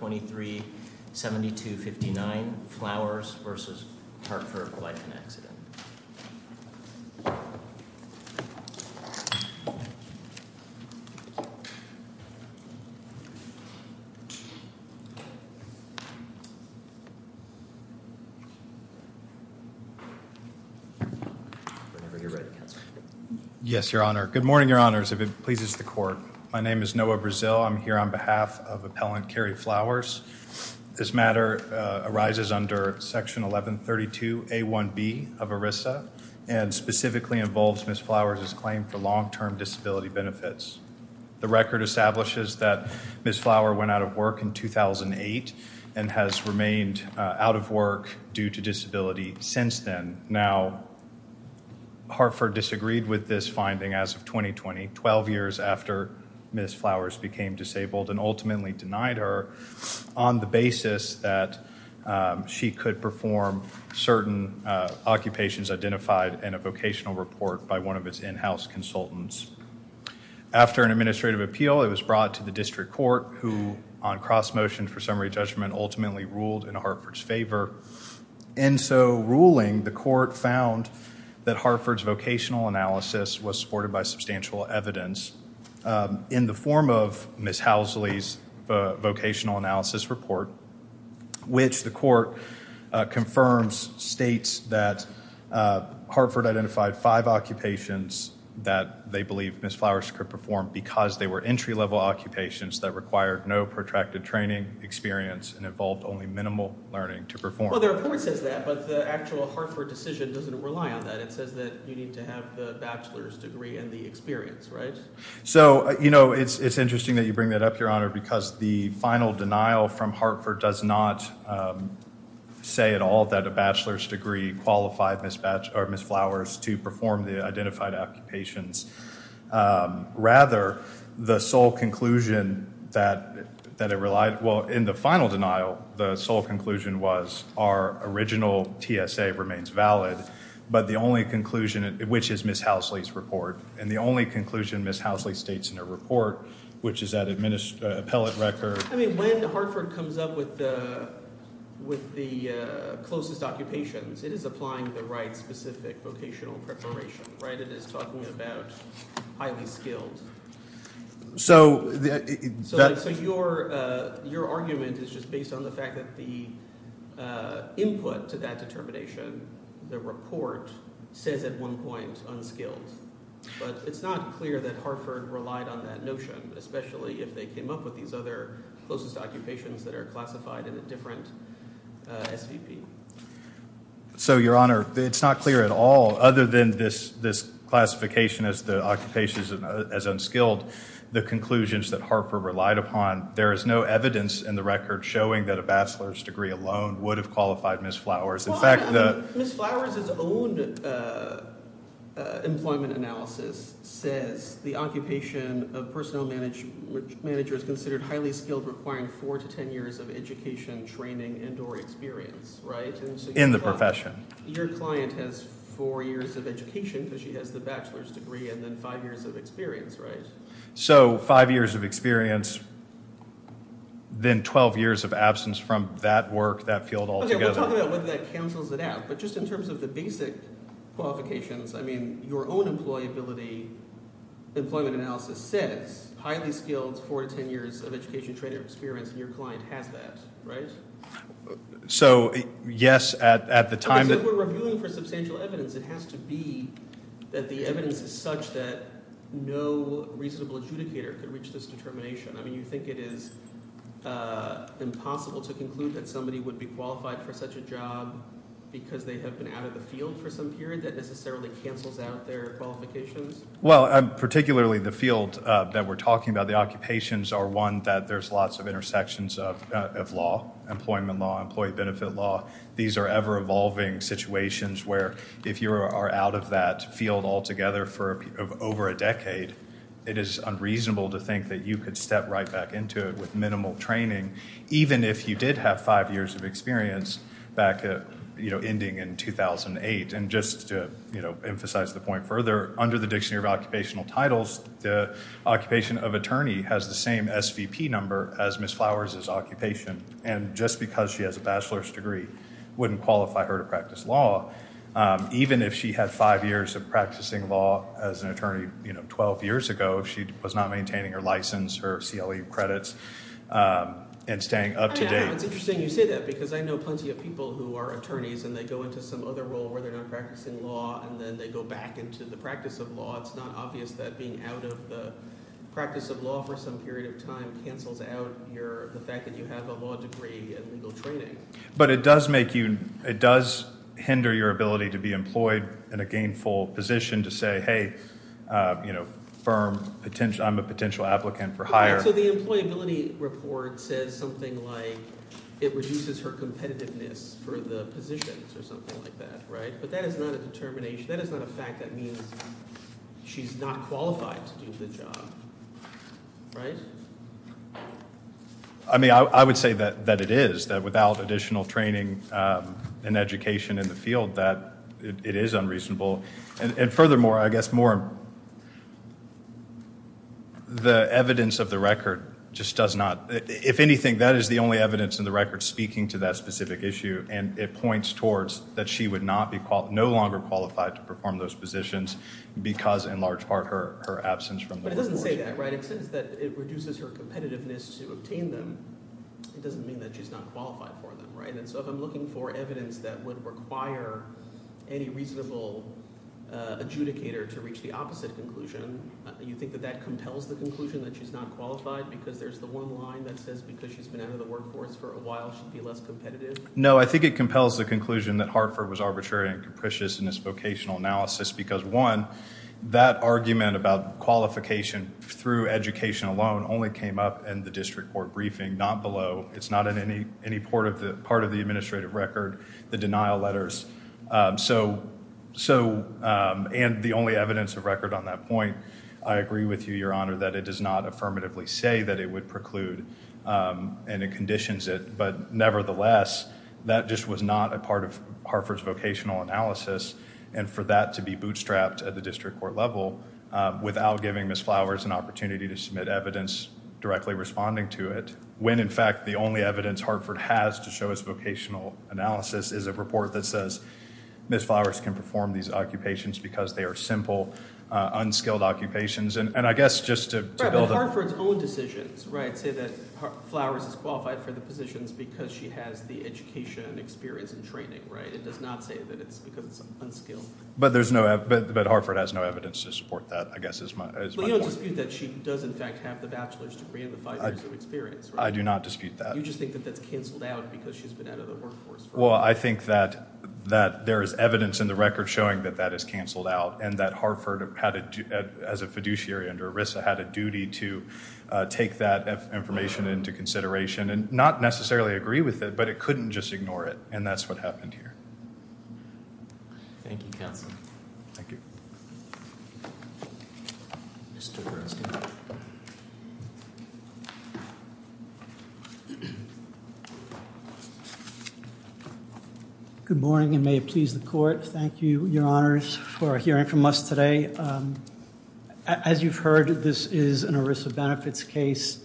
23-7259 Flowers v. Hartford Life and Accident. Yes, Your Honor. Good morning, Your Honors, if it pleases the court. My name is Noah Brazil. I'm here on behalf of appellant Carrie Flowers. This matter arises under Section 1132A1B of ERISA and specifically involves Ms. Flowers' claim for long-term disability benefits. The record establishes that Ms. Flower went out of work in 2008 and has remained out of work due to disability since then. Now, Hartford disagreed with this finding as of 2020, 12 years after Ms. Flowers became disabled and ultimately denied her on the basis that she could perform certain occupations identified in a vocational report by one of its in-house consultants. After an administrative appeal, it was brought to the district court who, on cross-motion for summary judgment, ultimately ruled in Hartford's favor. In so ruling, the court found that Hartford's vocational analysis was supported by substantial evidence in the form of Ms. Housley's vocational analysis report, which the court confirms states that Hartford identified five occupations that they believe Ms. Flowers could perform because they were entry-level occupations that required no protracted training experience and involved only minimal learning to perform. Well, the report says that, but the actual Hartford decision doesn't rely on that. It says that you need to have the bachelor's degree and the experience, right? So, you know, it's interesting that you bring that up, Your Honor, because the final denial from Hartford does not say at all that a bachelor's degree qualified Ms. Flowers to perform the identified occupations. Rather, the sole conclusion that it relied, well, in the final denial, the sole conclusion was our original TSA remains valid, but the only conclusion, which is Ms. Housley's report, and the only conclusion Ms. Housley states in her report, which is that appellate record. I mean, when Hartford comes up with the closest occupations, it is applying the right specific vocational preparation, right, it is talking about highly skilled. So, that's. So your argument is just based on the fact that the input to that determination, the report says at one point, unskilled. But it's not clear that Hartford relied on that notion, especially if they came up with these other closest occupations that are classified in a different SVP. So, Your Honor, it's not clear at all, other than this classification as the occupations as unskilled, the conclusions that Hartford relied upon, there is no evidence in the record showing that a bachelor's degree alone would have qualified Ms. Flowers. In fact, the. Ms. Flowers' own employment analysis says the occupation of personnel manager is considered highly skilled, requiring four to 10 years of education, training, and or experience, right? In the profession. Your client has four years of education, because she has the bachelor's degree, and then five years of experience, right? So, five years of experience, then 12 years of absence from that work, that field altogether. Okay, we'll talk about whether that cancels it out, but just in terms of the basic qualifications, I mean, your own employability, employment analysis says highly skilled, four to 10 years of education, training, and experience, and your client has that, right? So, yes, at the time that. Okay, so if we're reviewing for substantial evidence, it has to be that the evidence is such that no reasonable adjudicator could reach this determination. I mean, you think it is impossible to conclude that somebody would be qualified for such a job because they have been out of the field for some period that necessarily cancels out their qualifications? Well, particularly the field that we're talking about, the occupations are one that there's lots of intersections of law, employment law, employee benefit law. These are ever-evolving situations where if you are out of that field altogether for over a decade, it is unreasonable to think that you could step right back into it with minimal training, even if you did have five years of experience back at ending in 2008. And just to emphasize the point further, under the Dictionary of Occupational Titles, the occupation of attorney has the same SVP number as Ms. Flowers' occupation. And just because she has a bachelor's degree wouldn't qualify her to practice law. Even if she had five years of practicing law as an attorney 12 years ago, if she was not maintaining her license, her CLE credits, and staying up to date. I know, it's interesting you say that because I know plenty of people who are attorneys and they go into some other role where they're not practicing law and then they go back into the practice of law. It's not obvious that being out of the practice of law for some period of time cancels out the fact that you have a law degree and legal training. But it does make you, it does hinder your ability to be employed in a gainful position to say, hey, firm, I'm a potential applicant for hire. So the employability report says something like it reduces her competitiveness for the positions or something like that, right? But that is not a determination, that is not a fact that means she's not qualified to do the job, right? I mean, I would say that it is, that without additional training and education in the field, that it is unreasonable. And furthermore, I guess more, the evidence of the record just does not, if anything, that is the only evidence in the record speaking to that specific issue. And it points towards that she would not be, no longer qualified to perform those positions because in large part her absence from the course. But it doesn't say that, right? It says that it reduces her competitiveness to obtain them. It doesn't mean that she's not qualified for them, right? And so if I'm looking for evidence that would require any reasonable adjudicator to reach the opposite conclusion, you think that that compels the conclusion that she's not qualified because there's the one line that says because she's been out of the workforce for a while, she'd be less competitive? No, I think it compels the conclusion that Hartford was arbitrary and capricious in this vocational analysis because one, that argument about qualification through education alone only came up in the district court briefing, not below. It's not in any part of the administrative record, the denial letters. So, and the only evidence of record on that point, I agree with you, your honor, that it does not affirmatively say that it would preclude and it conditions it, but nevertheless, that just was not a part of Hartford's vocational analysis. And for that to be bootstrapped at the district court level without giving Ms. Flowers an opportunity to submit evidence directly responding to it, when in fact, the only evidence Hartford has to show us vocational analysis is a report that says, Ms. Flowers can perform these occupations because they are simple, unskilled occupations. And I guess just to build up. But Hartford's own decisions, right, say that Flowers is qualified for the positions because she has the education and experience and training, right? It does not say that it's because it's unskilled. But Hartford has no evidence to support that, I guess is my point. But you don't dispute that she does in fact have the bachelor's degree and the five years of experience, right? I do not dispute that. You just think that that's canceled out because she's been out of the workforce. Well, I think that there is evidence in the record showing that that is canceled out and that Hartford had, as a fiduciary under ERISA, had a duty to take that information into consideration and not necessarily agree with it, but it couldn't just ignore it. And that's what happened here. Thank you, counsel. Thank you. Mr. Burns. Good morning and may it please the court. Thank you, your honors, for hearing from us today. As you've heard, this is an ERISA benefits case.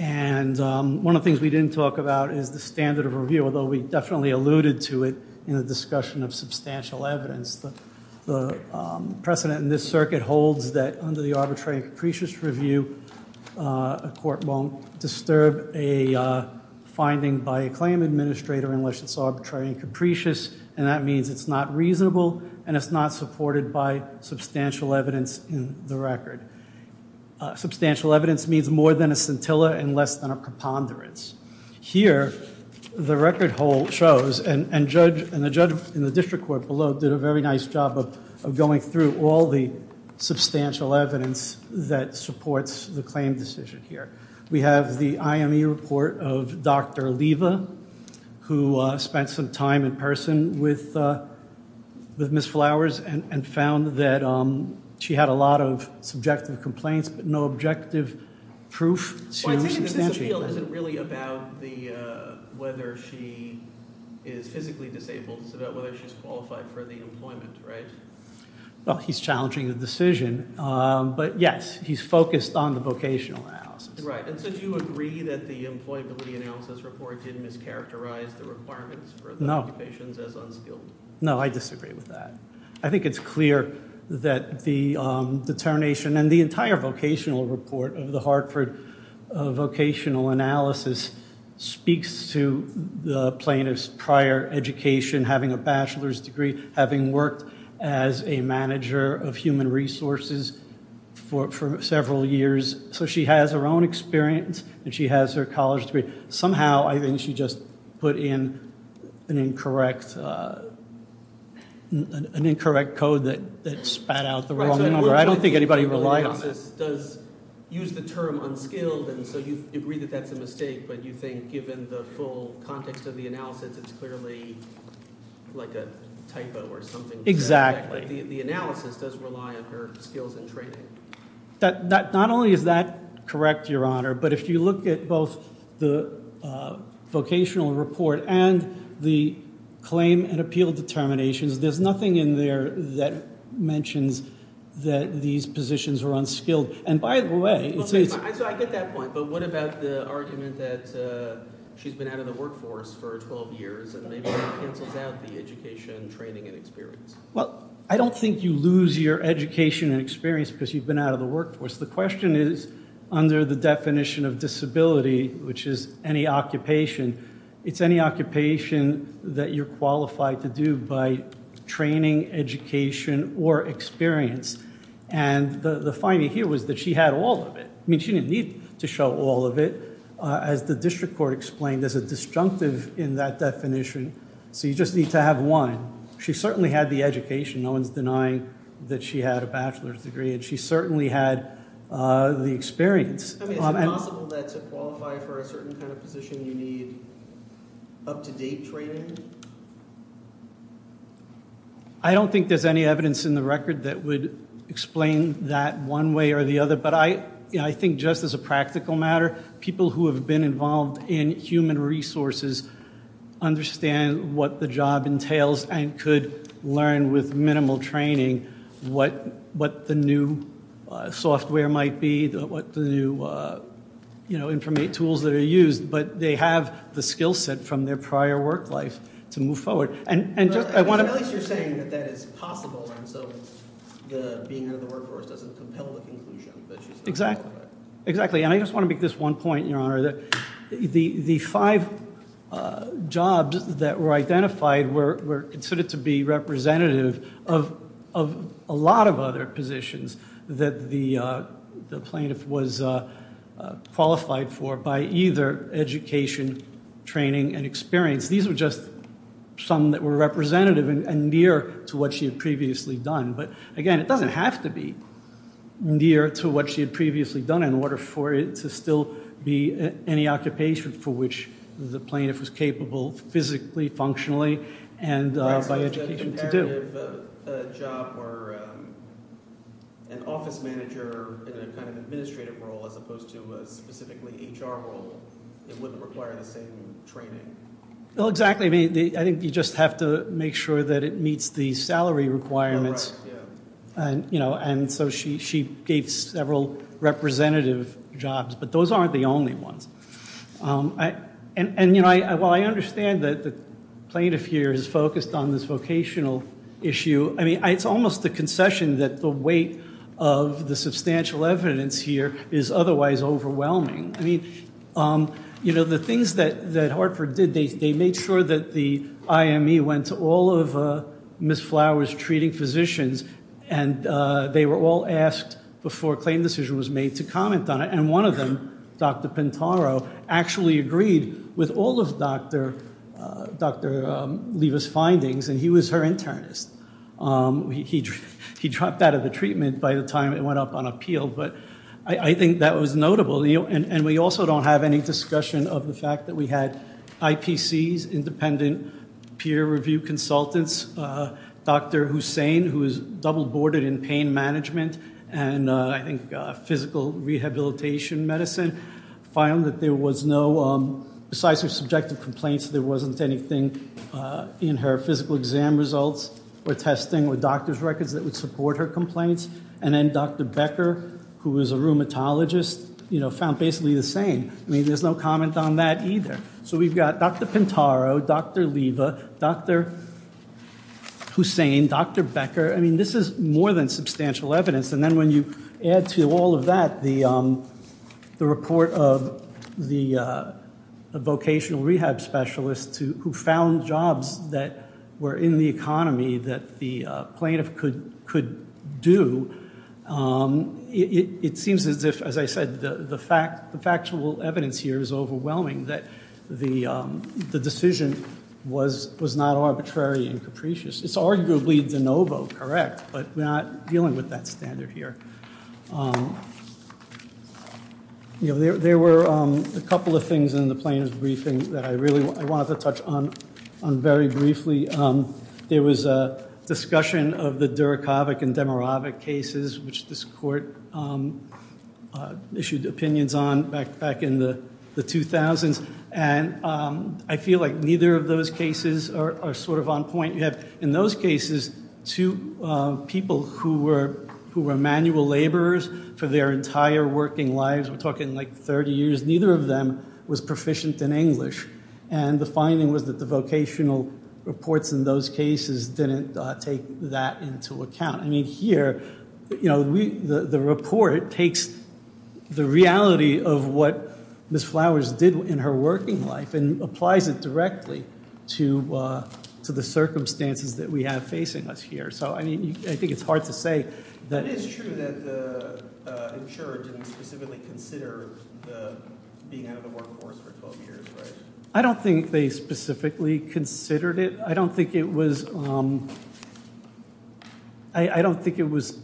And one of the things we didn't talk about is the standard of review, although we definitely alluded to it in the discussion of substantial evidence. The precedent in this circuit holds that under the arbitrary and capricious review, a court won't disturb a finding by a claim administrator unless it's arbitrary and capricious, and that means it's not reasonable and it's not supported by substantial evidence in the record. Substantial evidence means more than a scintilla and less than a preponderance. Here, the record shows, and the judge in the district court below did a very nice job of going through all the substantial evidence that supports the claim decision here. We have the IME report of Dr. Leva, who spent some time in person with Ms. Flowers and found that she had a lot of subjective complaints, but no objective proof. Well, I take it this appeal isn't really about whether she is physically disabled. It's about whether she's qualified for the employment, right? Well, he's challenging the decision, but yes, he's focused on the vocational analysis. Right, and so do you agree that the employability analysis report didn't mischaracterize the requirements for the occupations as unskilled? No, I disagree with that. I think it's clear that the determination and the entire vocational report of the Hartford vocational analysis speaks to the plaintiff's prior education, having a bachelor's degree, having worked as a manager of human resources for several years. So she has her own experience and she has her college degree. Somehow, I think she just put in an incorrect, an incorrect code that spat out the wrong number. I don't think anybody relies on this. Does use the term unskilled, and so you agree that that's a mistake, but you think given the full context of the analysis, it's clearly like a typo or something. The analysis does rely on her skills and training. Not only is that correct, Your Honor, but if you look at both the vocational report and the claim and appeal determinations, there's nothing in there that mentions that these positions are unskilled. And by the way, it's a- So I get that point, but what about the argument that she's been out of the workforce for 12 years and maybe that cancels out the education, training, and experience? Well, I don't think you lose your education and experience because you've been out of the workforce. The question is, under the definition of disability, which is any occupation, it's any occupation that you're qualified to do by training, education, or experience. And the finding here was that she had all of it. I mean, she didn't need to show all of it. As the district court explained, there's a disjunctive in that definition. So you just need to have one. She certainly had the education. No one's denying that she had a bachelor's degree. And she certainly had the experience. I mean, is it possible that to qualify for a certain kind of position, you need up-to-date training? I don't think there's any evidence in the record that would explain that one way or the other. But I think just as a practical matter, people who have been involved in human resources understand what the job entails and could learn with minimal training what the new software might be, what the new information tools that are used. But they have the skillset from their prior work life to move forward. And just, I want to- But at least you're saying that that is possible. And so being out of the workforce doesn't compel the conclusion. Exactly. Exactly. And I just want to make this one point, Your Honor, that the five jobs that were identified were considered to be representative of a lot of other positions that the plaintiff was qualified for by either education, training, and experience. These were just some that were representative and near to what she had previously done. But again, it doesn't have to be near to what she had previously done in order for it to still be any occupation for which the plaintiff was capable physically, functionally, and by education to do. So if it's a comparative job where an office manager in a kind of administrative role as opposed to a specifically HR role, it wouldn't require the same training. Well, exactly. I mean, I think you just have to make sure that it meets the salary requirements. Oh, right, yeah. And so she gave several representative jobs, but those aren't the only ones. And while I understand that the plaintiff here is focused on this vocational issue, I mean, it's almost a concession that the weight of the substantial evidence here is otherwise overwhelming. I mean, the things that Hartford did, they made sure that the IME went to all of Ms. Flowers' treating physicians, and they were all asked before a claim decision was made to comment on it. And one of them, Dr. Pintaro, actually agreed with all of Dr. Leva's findings, and he was her internist. He dropped out of the treatment by the time it went up on appeal, but I think that was notable. And we also don't have any discussion of the fact that we had IPCs, independent peer review consultants, Dr. Hussain, who is double-boarded in pain management, and I think physical rehabilitation medicine, found that there was no, besides her subjective complaints, there wasn't anything in her physical exam results or testing or doctor's records that would support her complaints. And then Dr. Becker, who is a rheumatologist, found basically the same. I mean, there's no comment on that either. So we've got Dr. Pintaro, Dr. Leva, Dr. Hussain, Dr. Becker. I mean, this is more than substantial evidence. And then when you add to all of that the report of the vocational rehab specialist who found jobs that were in the economy that the plaintiff could do, it seems as if, as I said, the factual evidence here is overwhelming, that the decision was not arbitrary and capricious. It's arguably de novo, correct, but we're not dealing with that standard here. You know, there were a couple of things in the plaintiff's briefing that I really wanted to touch on very briefly. There was a discussion of the Durakovic and Demirovic cases, which this court issued opinions on back in the 2000s. And I feel like neither of those cases are sort of on point yet. In those cases, two people who were manual laborers for their entire working lives, we're talking like 30 years, neither of them was proficient in English. And the finding was that the vocational reports in those cases didn't take that into account. I mean, here, the report takes the reality of what Ms. Flowers did in her working life and applies it directly to the circumstances that we have facing us here. So, I mean, I think it's hard to say that- It is true that the insurer didn't specifically consider being out of the workforce for 12 years, right? I don't think they specifically considered it. I don't think it was, I don't think it was,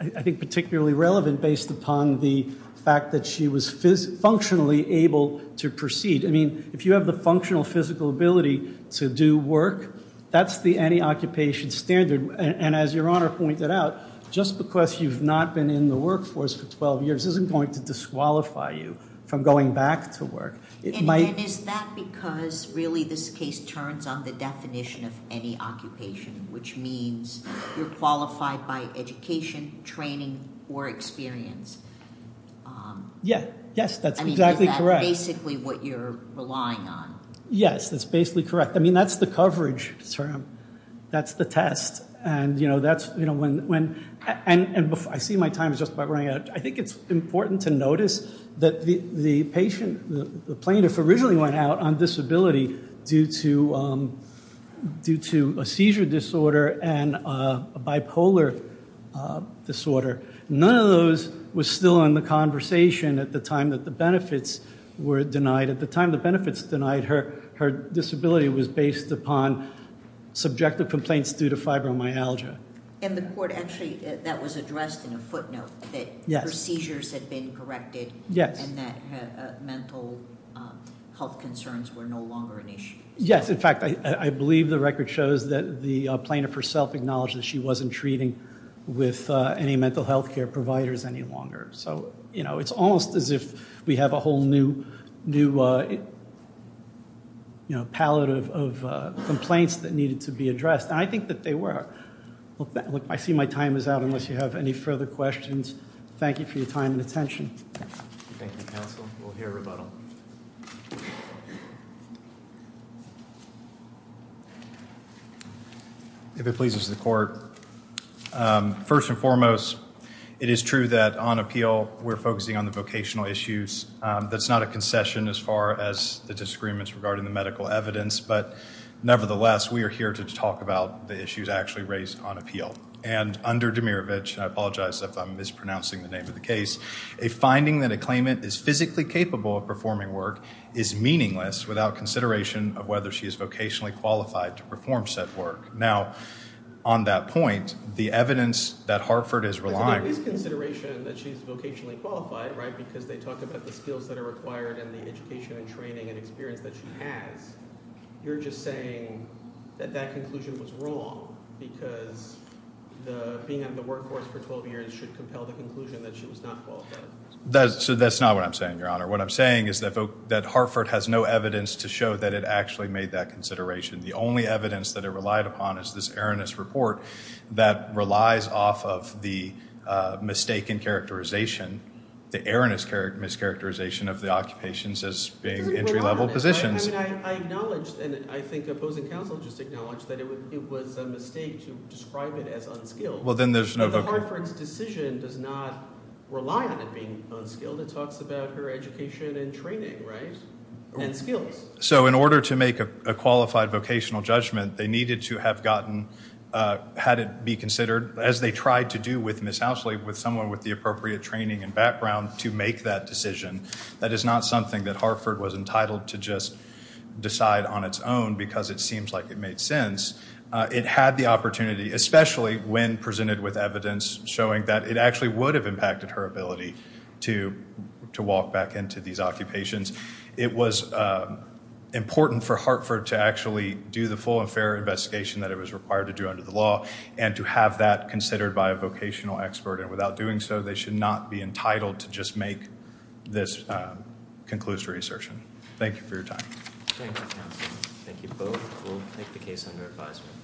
I think, particularly relevant based upon the fact that she was functionally able to proceed. I mean, if you have the functional physical ability to do work, that's the any occupation standard. And as Your Honor pointed out, just because you've not been in the workforce for 12 years isn't going to disqualify you from going back to work. It might- And is that because really this case turns on the definition of any occupation, which means you're qualified by education, training, or experience? Yeah, yes, that's exactly correct. I mean, is that basically what you're relying on? Yes, that's basically correct. I mean, that's the coverage term. That's the test. And, you know, that's, you know, when, and I see my time is just about running out. I think it's important to notice that the patient, the plaintiff originally went out on disability due to a seizure disorder and a bipolar disorder. None of those was still in the conversation at the time that the benefits were denied. At the time the benefits denied, her disability was based upon subjective complaints due to fibromyalgia. And the court actually, that was addressed in a footnote that her seizures had been corrected and that mental health concerns were no longer an issue. Yes, in fact, I believe the record shows that the plaintiff herself acknowledged that she wasn't treating with any mental health care providers any longer. So, you know, it's almost as if we have a whole new, new, you know, pallet of complaints that needed to be addressed. And I think that they were. Look, I see my time is out unless you have any further questions. Thank you for your time and attention. Thank you, counsel. We'll hear rebuttal. If it pleases the court. First and foremost, it is true that on appeal, we're focusing on the vocational issues. That's not a concession as far as the disagreements regarding the medical evidence. But nevertheless, we are here to talk about the issues actually raised on appeal. And under Demirovich, I apologize if I'm mispronouncing the name of the case, a finding that a claimant is physically capable of performing work is meaningless without consideration of whether she is vocationally qualified to perform said work. Now, on that point, the evidence that Hartford is relying on. But there is consideration that she's vocationally qualified, right? Because they talk about the skills that are required and the education and training and experience that she has. You're just saying that that conclusion was wrong because being in the workforce for 12 years should compel the conclusion that she was not qualified. So that's not what I'm saying, Your Honor. What I'm saying is that Hartford has no evidence to show that it actually made that consideration. The only evidence that it relied upon is this erroneous report that relies off of the mistaken characterization, the erroneous mischaracterization of the occupations as being entry-level positions. I mean, I acknowledge, and I think opposing counsel just acknowledged that it was a mistake to describe it as unskilled. Well, then there's no vocation. But Hartford's decision does not rely on it being unskilled. It talks about her education and training, right? And skills. So in order to make a qualified vocational judgment, they needed to have gotten, had it be considered, as they tried to do with Ms. Housley, with someone with the appropriate training and background to make that decision. That is not something that Hartford was entitled to just decide on its own because it seems like it made sense. It had the opportunity, especially when presented with evidence showing that it actually would have impacted her ability to walk back into these occupations. It was important for Hartford to actually do the full and fair investigation that it was required to do under the law and to have that considered by a vocational expert. And without doing so, they should not be entitled to just make this conclusive assertion. Thank you for your time. Thank you, counsel. Thank you both. We'll take the case under advisement.